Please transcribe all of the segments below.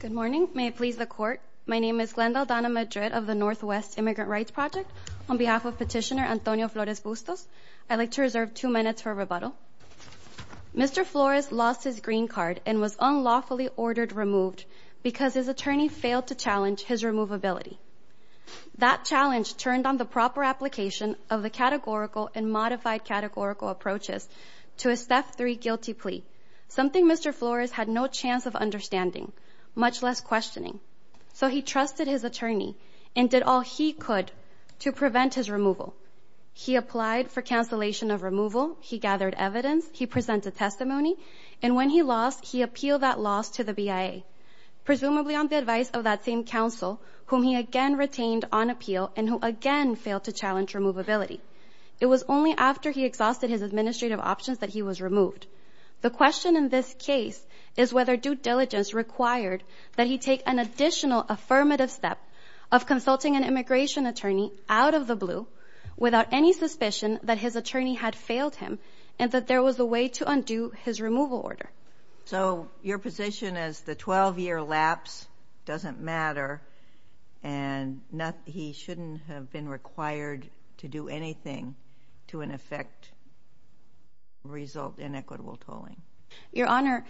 Good morning, may it please the court. My name is Glenda Aldana Madrid of the Northwest Immigrant Rights Project. On behalf of petitioner Antonio Flores Bustos, I'd like to reserve two minutes for rebuttal. Mr. Flores lost his green card and was unlawfully ordered removed because his attorney failed to challenge his removability. That challenge turned on the proper application of the categorical and modified categorical approaches to a STEP 3 guilty plea, something Mr. Flores had no chance of understanding, much less questioning. So he trusted his attorney and did all he could to prevent his removal. He applied for cancellation of removal. He gathered evidence. He presented testimony. And when he lost, he appealed that loss to the BIA, presumably on the advice of that same counsel, whom he again retained on appeal and who again failed to challenge removability. It was only after he exhausted his administrative options that he was removed. The question in this case is whether due diligence required that he take an additional affirmative step of consulting an immigration attorney out of the blue without any suspicion that his attorney had failed him and that there was a way to undo his removal order. So your position is the 12-year lapse doesn't matter and he shouldn't have been required to do anything to in effect result in equitable tolling? Your Honor,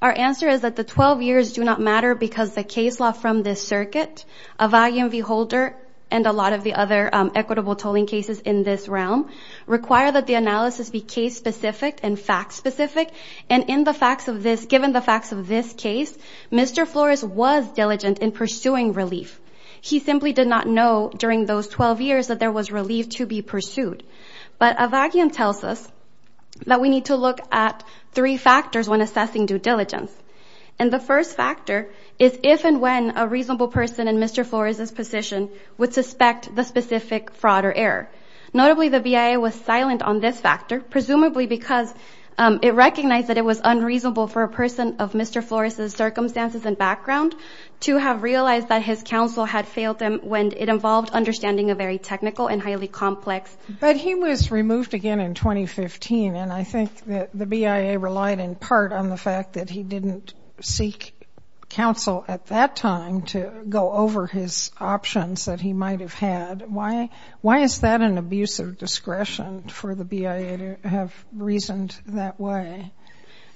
our answer is that the 12 years do not matter because the case law from this circuit of IMV Holder and a lot of the other equitable tolling cases in this realm require that the analysis be case-specific and fact-specific and in the facts of this, given the facts of this case, Mr. Flores was diligent in pursuing relief. He simply did not know during those 12 years that there was relief to be pursued. But Avakian tells us that we need to look at three factors when assessing due diligence. And the first factor is if and when a reasonable person in Mr. Flores' position would suspect the specific fraud or error. Notably, the BIA was silent on this factor, presumably because it recognized that it was unreasonable for a person of Mr. Flores' circumstances and background to have realized that his counsel had failed him when it involved understanding a very technical and highly complex... But he was removed again in 2015 and I think that the BIA relied in part on the fact that he didn't seek counsel at that time to go over his options that he might have had. Why is that an abuse of discretion for the BIA to have reasoned that way?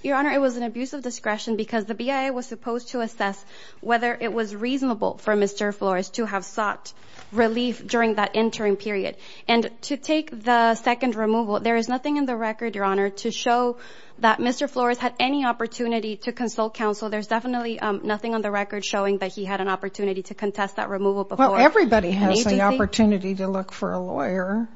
Your Honor, it was an abuse of discretion because the BIA was supposed to assess whether it was reasonable for Mr. Flores to have sought relief during that interim period. And to take the second removal, there is nothing in the record, Your Honor, to show that Mr. Flores had any opportunity to consult counsel. There's definitely nothing on the record showing that he had an opportunity to contest that removal before... Well, everybody has an opportunity to look for a lawyer.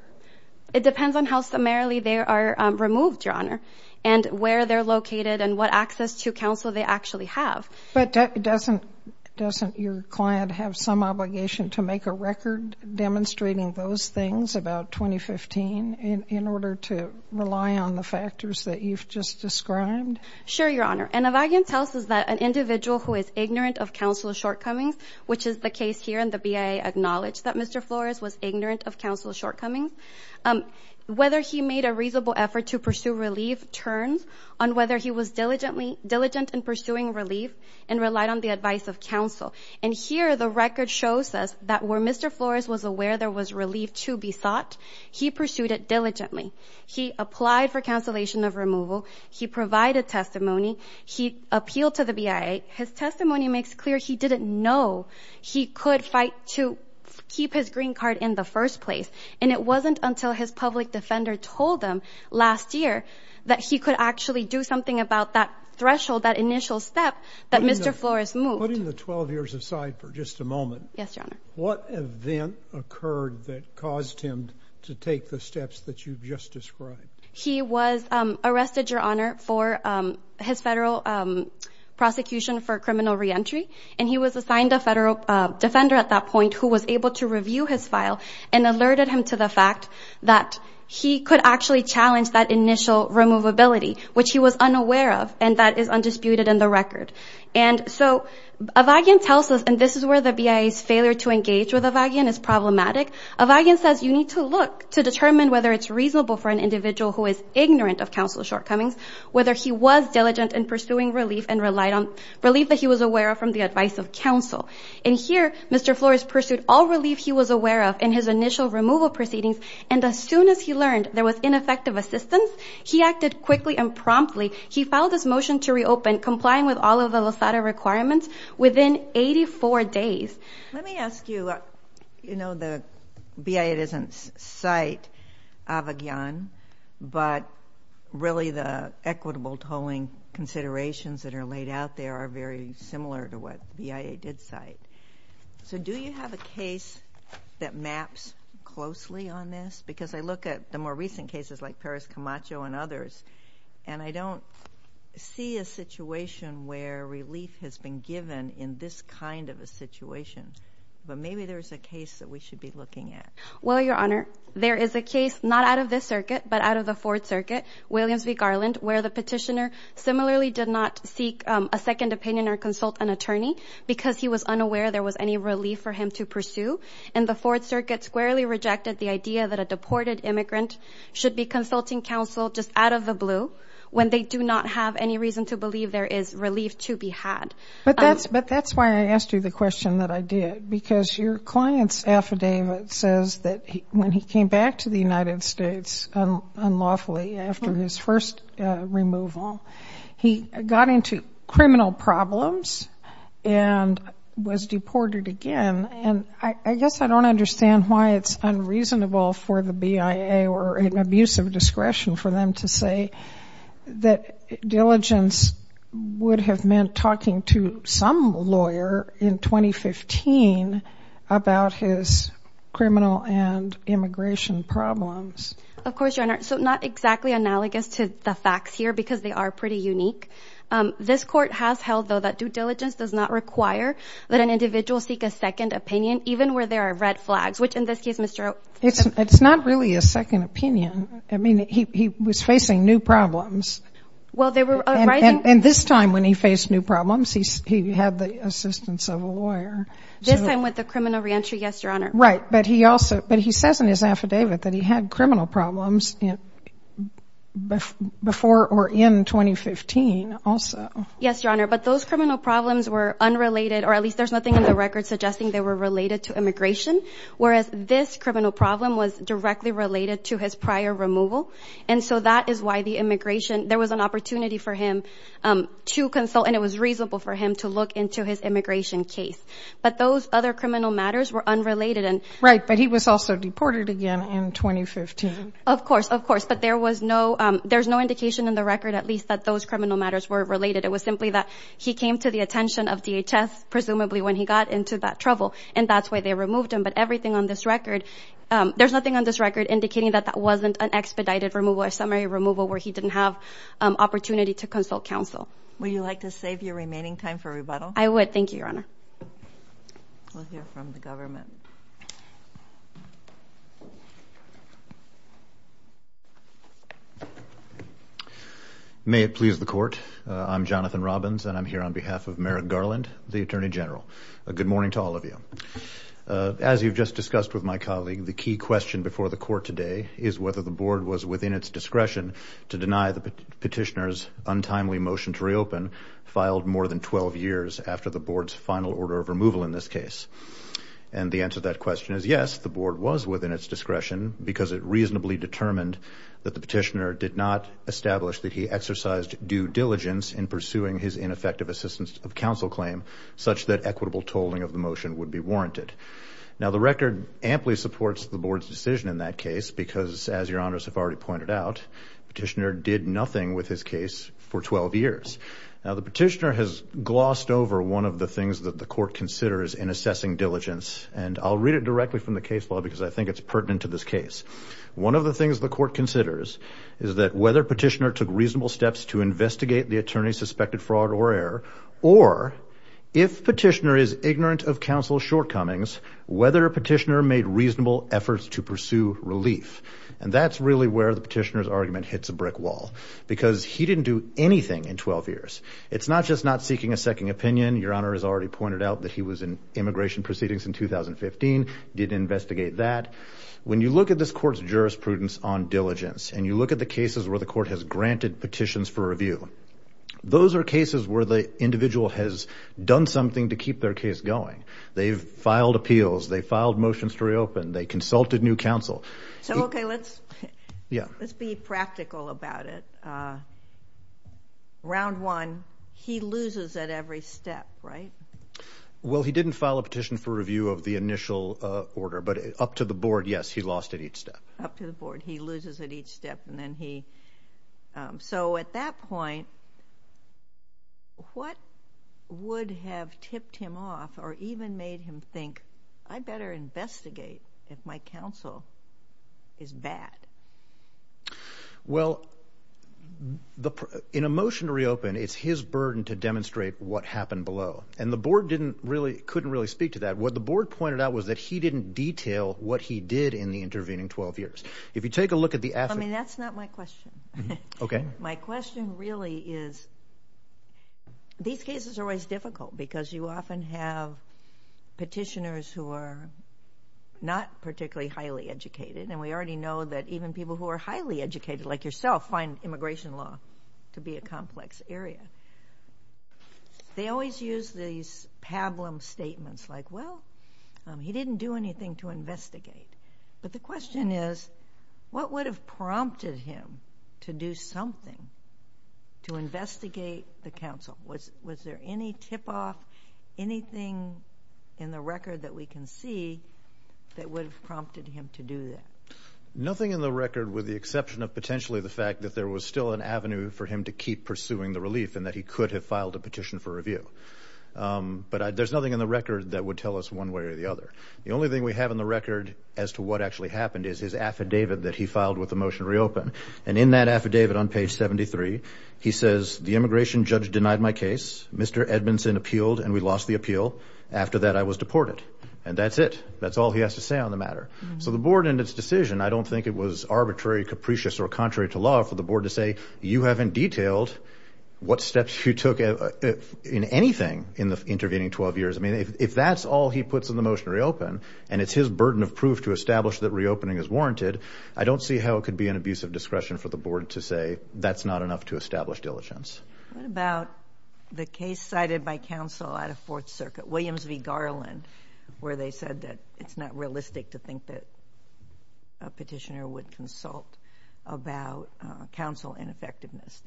It depends on how summarily they are removed, Your Honor, and where they're located and what access to counsel they actually have. But doesn't your client have some obligation to make a record demonstrating those things about 2015 in order to rely on the factors that you've just described? Sure, Your Honor. And Evagen tells us that an individual who is ignorant of counsel shortcomings, which is the case here and the BIA acknowledged that Mr. Flores was ignorant of counsel shortcomings. Whether he made a reasonable effort to pursue relief turns on whether he was diligent in pursuing relief and relied on the advice of counsel. And here, the record shows us that where Mr. Flores was aware there was relief to be sought, he pursued it diligently. He applied for cancellation of removal. He provided testimony. He appealed to the BIA. His testimony makes clear he didn't know he could fight to keep his green card in the first place. And it wasn't until his public defender told him last year that he could actually do something about that threshold, that initial step, that Mr. Flores moved. Putting the 12 years aside for just a moment, what event occurred that caused him to take the steps that you've just described? He was arrested, Your Honor, for his federal prosecution for criminal reentry. And he was assigned a federal defender at that point who was able to review his file and alerted him to the fact that he could actually challenge that initial removability, which he was unaware of, and that is undisputed in the record. And so, Avagian tells us, and this is where the BIA's failure to engage with Avagian is problematic. Avagian says you need to look to determine whether it's reasonable for an individual who is ignorant of counsel's shortcomings, whether he was diligent in pursuing relief and relied on relief that he was aware of from the advice of counsel. And here, Mr. Flores pursued all relief he was aware of in his initial removal proceedings, and as soon as he learned there was ineffective assistance, he acted quickly and promptly. He filed his motion to reopen, complying with all of the Losada requirements, within 84 days. Let me ask you, you know, the BIA doesn't cite Avagian, but really the equitable tolling considerations that are laid out there are very similar to what the BIA did cite. So, do you have a case that maps closely on this? Because I look at the more recent cases, like Perez Camacho and others, and I don't see a situation where relief has been given in this kind of a situation, but maybe there's a case that we should be looking at. Well, Your Honor, there is a case, not out of this circuit, but out of the Fourth Circuit, Williams v. Garland, where the petitioner similarly did not seek a second opinion or consult an attorney because he was unaware there was any relief for him to pursue. And the Fourth Circuit squarely rejected the idea that a deported immigrant should be consulting counsel just out of the blue when they do not have any reason to believe there is relief to be had. But that's why I asked you the question that I did, because your client's affidavit says that when he came back to the United States unlawfully after his first removal, he got into criminal problems and was deported again. And I guess I don't understand why it's unreasonable for the BIA or an abuse of discretion for them to say that diligence would have meant talking to some lawyer in 2015 about his criminal and immigration problems. Of course, Your Honor. So not exactly analogous to the facts here, because they are pretty unique. This Court has held, though, that due diligence does not require that an individual seek a second opinion, even where there are red flags, which, in this case, Mr. O'Keefe. It's not really a second opinion. I mean, he was facing new problems. Well, they were arising. And this time, when he faced new problems, he had the assistance of a lawyer. This time with the criminal reentry, yes, Your Honor. Right. Right. But he also, but he says in his affidavit that he had criminal problems before or in 2015 also. Yes, Your Honor. But those criminal problems were unrelated, or at least there's nothing in the record suggesting they were related to immigration, whereas this criminal problem was directly related to his prior removal. And so that is why the immigration, there was an opportunity for him to consult, and it was reasonable for him to look into his immigration case. But those other criminal matters were unrelated. Right. But he was also deported again in 2015. Of course. Of course. But there was no, there's no indication in the record, at least, that those criminal matters were related. It was simply that he came to the attention of DHS, presumably when he got into that trouble, and that's why they removed him. But everything on this record, there's nothing on this record indicating that that wasn't an expedited removal, a summary removal, where he didn't have opportunity to consult counsel. Would you like to save your remaining time for rebuttal? I would. Thank you, Your Honor. We'll hear from the government. May it please the Court. I'm Jonathan Robbins, and I'm here on behalf of Merrick Garland, the Attorney General. Good morning to all of you. As you've just discussed with my colleague, the key question before the Court today is whether the Board was within its discretion to deny the petitioner's untimely motion to the Board's final order of removal in this case. And the answer to that question is yes, the Board was within its discretion because it reasonably determined that the petitioner did not establish that he exercised due diligence in pursuing his ineffective assistance of counsel claim such that equitable tolling of the motion would be warranted. Now the record amply supports the Board's decision in that case because, as Your Honors have already pointed out, the petitioner did nothing with his case for 12 years. Now the petitioner has glossed over one of the things that the Court considers in assessing diligence, and I'll read it directly from the case law because I think it's pertinent to this case. One of the things the Court considers is that whether petitioner took reasonable steps to investigate the attorney's suspected fraud or error, or if petitioner is ignorant of counsel's shortcomings, whether petitioner made reasonable efforts to pursue relief. And that's really where the petitioner's argument hits a brick wall because he didn't do anything in 12 years. It's not just not seeking a second opinion. Your Honor has already pointed out that he was in immigration proceedings in 2015, did investigate that. When you look at this Court's jurisprudence on diligence, and you look at the cases where the Court has granted petitions for review, those are cases where the individual has done something to keep their case going. They've filed appeals, they filed motions to reopen, they consulted new counsel. So, okay, let's be practical about it. Round one, he loses at every step, right? Well, he didn't file a petition for review of the initial order, but up to the Board, yes, he lost at each step. Up to the Board, he loses at each step. So at that point, what would have tipped him off or even made him think, I better investigate if my counsel is bad? Well, in a motion to reopen, it's his burden to demonstrate what happened below. And the Board couldn't really speak to that. What the Board pointed out was that he didn't detail what he did in the intervening 12 years. If you take a look at the affidavit... I mean, that's not my question. My question really is, these cases are always difficult because you often have petitioners who are not particularly highly educated, and we already know that even people who are highly educated, like yourself, find immigration law to be a complex area. They always use these pablum statements, like, well, he didn't do anything to investigate. But the question is, what would have prompted him to do something to investigate the counsel? Was there any tip-off, anything in the record that we can see that would have prompted him to do that? Nothing in the record with the exception of potentially the fact that there was still an avenue for him to keep pursuing the relief and that he could have filed a petition for review. But there's nothing in the record that would tell us one way or the other. The only thing we have in the record as to what actually happened is his affidavit that he filed with the motion to reopen. And in that affidavit on page 73, he says, the immigration judge denied my case. Mr. Edmondson appealed, and we lost the appeal. After that, I was deported. And that's it. That's all he has to say on the matter. So the board, in its decision, I don't think it was arbitrary, capricious, or contrary to law for the board to say, you haven't detailed what steps you took in anything in the intervening 12 years. I mean, if that's all he puts in the motion to reopen, and it's his burden of proof to discretion for the board to say, that's not enough to establish diligence. What about the case cited by counsel at a Fourth Circuit, Williams v. Garland, where they said that it's not realistic to think that a petitioner would consult about counsel ineffectiveness?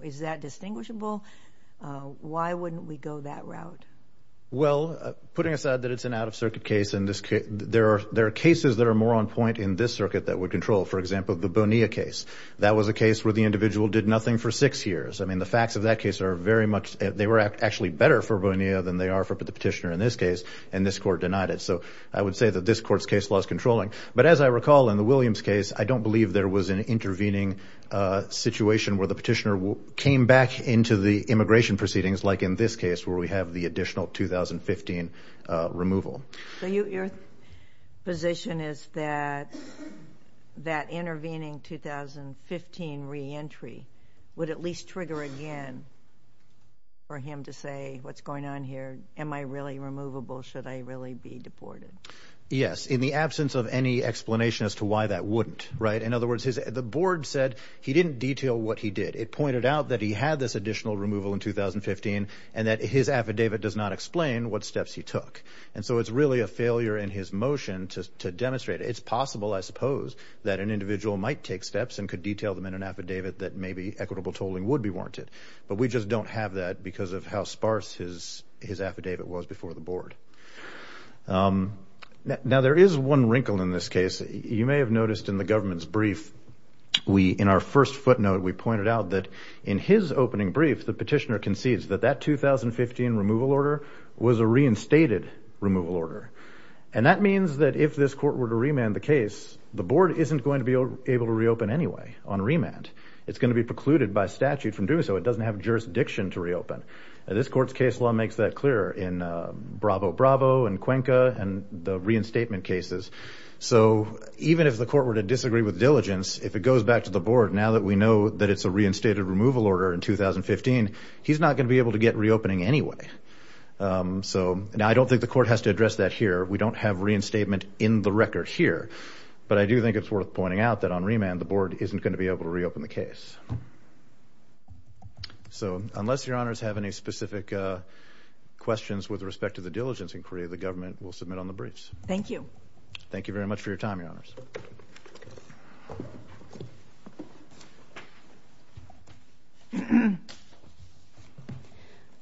Is that distinguishable? Why wouldn't we go that route? Well, putting aside that it's an out-of-circuit case, there are cases that are more on point in this circuit that would control. For example, the Bonilla case, that was a case where the individual did nothing for six years. I mean, the facts of that case are very much, they were actually better for Bonilla than they are for the petitioner in this case. And this court denied it. So I would say that this court's case was controlling. But as I recall in the Williams case, I don't believe there was an intervening situation where the petitioner came back into the immigration proceedings like in this case, where we have the additional 2015 removal. So your position is that that intervening 2015 reentry would at least trigger again for him to say, what's going on here? Am I really removable? Should I really be deported? Yes. In the absence of any explanation as to why that wouldn't, right? In other words, the board said he didn't detail what he did. It pointed out that he had this additional removal in 2015 and that his affidavit does not explain what steps he took. And so it's really a failure in his motion to demonstrate. It's possible, I suppose, that an individual might take steps and could detail them in an affidavit that maybe equitable tolling would be warranted. But we just don't have that because of how sparse his affidavit was before the board. Now there is one wrinkle in this case. You may have noticed in the government's brief, we, in our first footnote, we pointed out that in his opening brief, the petitioner concedes that that 2015 removal order was a reinstated removal order. And that means that if this court were to remand the case, the board isn't going to be able to reopen anyway on remand. It's going to be precluded by statute from doing so. It doesn't have jurisdiction to reopen. This court's case law makes that clear in Bravo Bravo and Cuenca and the reinstatement cases. So even if the court were to disagree with diligence, if it goes back to the board now that we know that it's a reinstated removal order in 2015, he's not going to be able to get reopening anyway. So now I don't think the court has to address that here. We don't have reinstatement in the record here. But I do think it's worth pointing out that on remand, the board isn't going to be able to reopen the case. So unless your honors have any specific questions with respect to the diligence inquiry, the government will submit on the briefs. Thank you. Thank you very much for your time, your honors.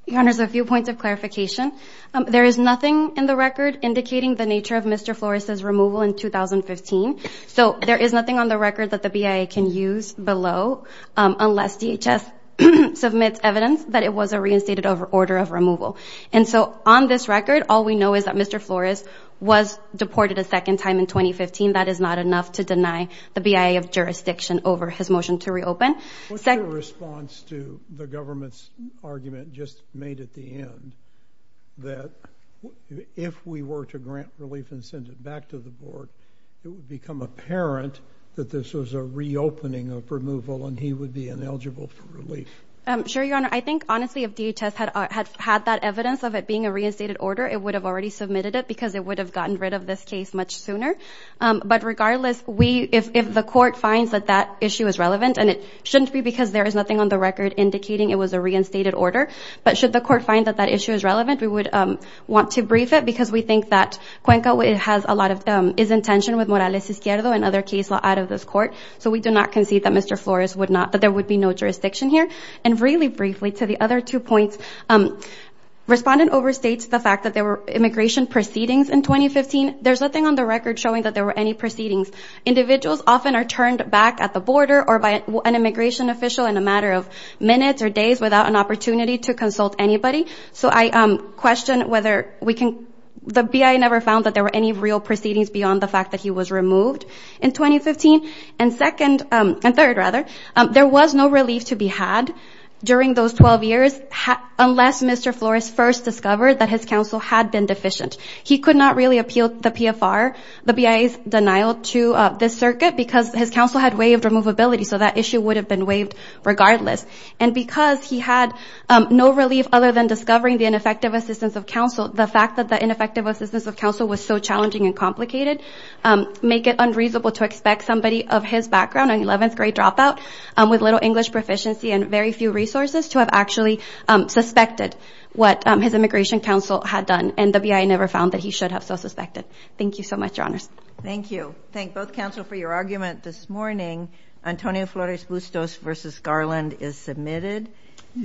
Your honors, a few points of clarification. There is nothing in the record indicating the nature of Mr. Flores' removal in 2015. So there is nothing on the record that the BIA can use below unless DHS submits evidence that it was a reinstated order of removal. And so on this record, all we know is that Mr. Flores was deported a second time in 2015. That is not enough to deny the BIA of jurisdiction over his motion to reopen. What's your response to the government's argument just made at the end that if we were to grant relief and send it back to the board, it would become apparent that this was a reopening of removal and he would be ineligible for relief? Sure, your honor. I think, honestly, if DHS had had that evidence of it being a reinstated order, it would have already submitted it because it would have gotten rid of this case much sooner. But regardless, if the court finds that that issue is relevant, and it shouldn't be because there is nothing on the record indicating it was a reinstated order, but should the court find that that issue is relevant, we would want to brief it because we think that Cuenca is in tension with Morales Izquierdo and other case law out of this court. So we do not concede that Mr. Flores would not, that there would be no jurisdiction here. And really briefly to the other two points, respondent overstates the fact that there were immigration proceedings in 2015. There's nothing on the record showing that there were any proceedings. Individuals often are turned back at the border or by an immigration official in a matter of minutes or days without an opportunity to consult anybody. So I question whether we can, the BIA never found that there were any real proceedings beyond the fact that he was removed in 2015. And second, and third rather, there was no relief to be had during those 12 years unless Mr. Flores first discovered that his counsel had been deficient. He could not really appeal the PFR, the BIA's denial to this circuit because his counsel had waived removability, so that issue would have been waived regardless. And because he had no relief other than discovering the ineffective assistance of counsel, the fact that the ineffective assistance of counsel was so challenging and complicated, make it of his background, an 11th grade dropout with little English proficiency and very few resources to have actually suspected what his immigration counsel had done. And the BIA never found that he should have so suspected. Thank you so much, Your Honors. Thank you. Thank both counsel for your argument this morning. Antonio Flores Bustos v. Garland is submitted.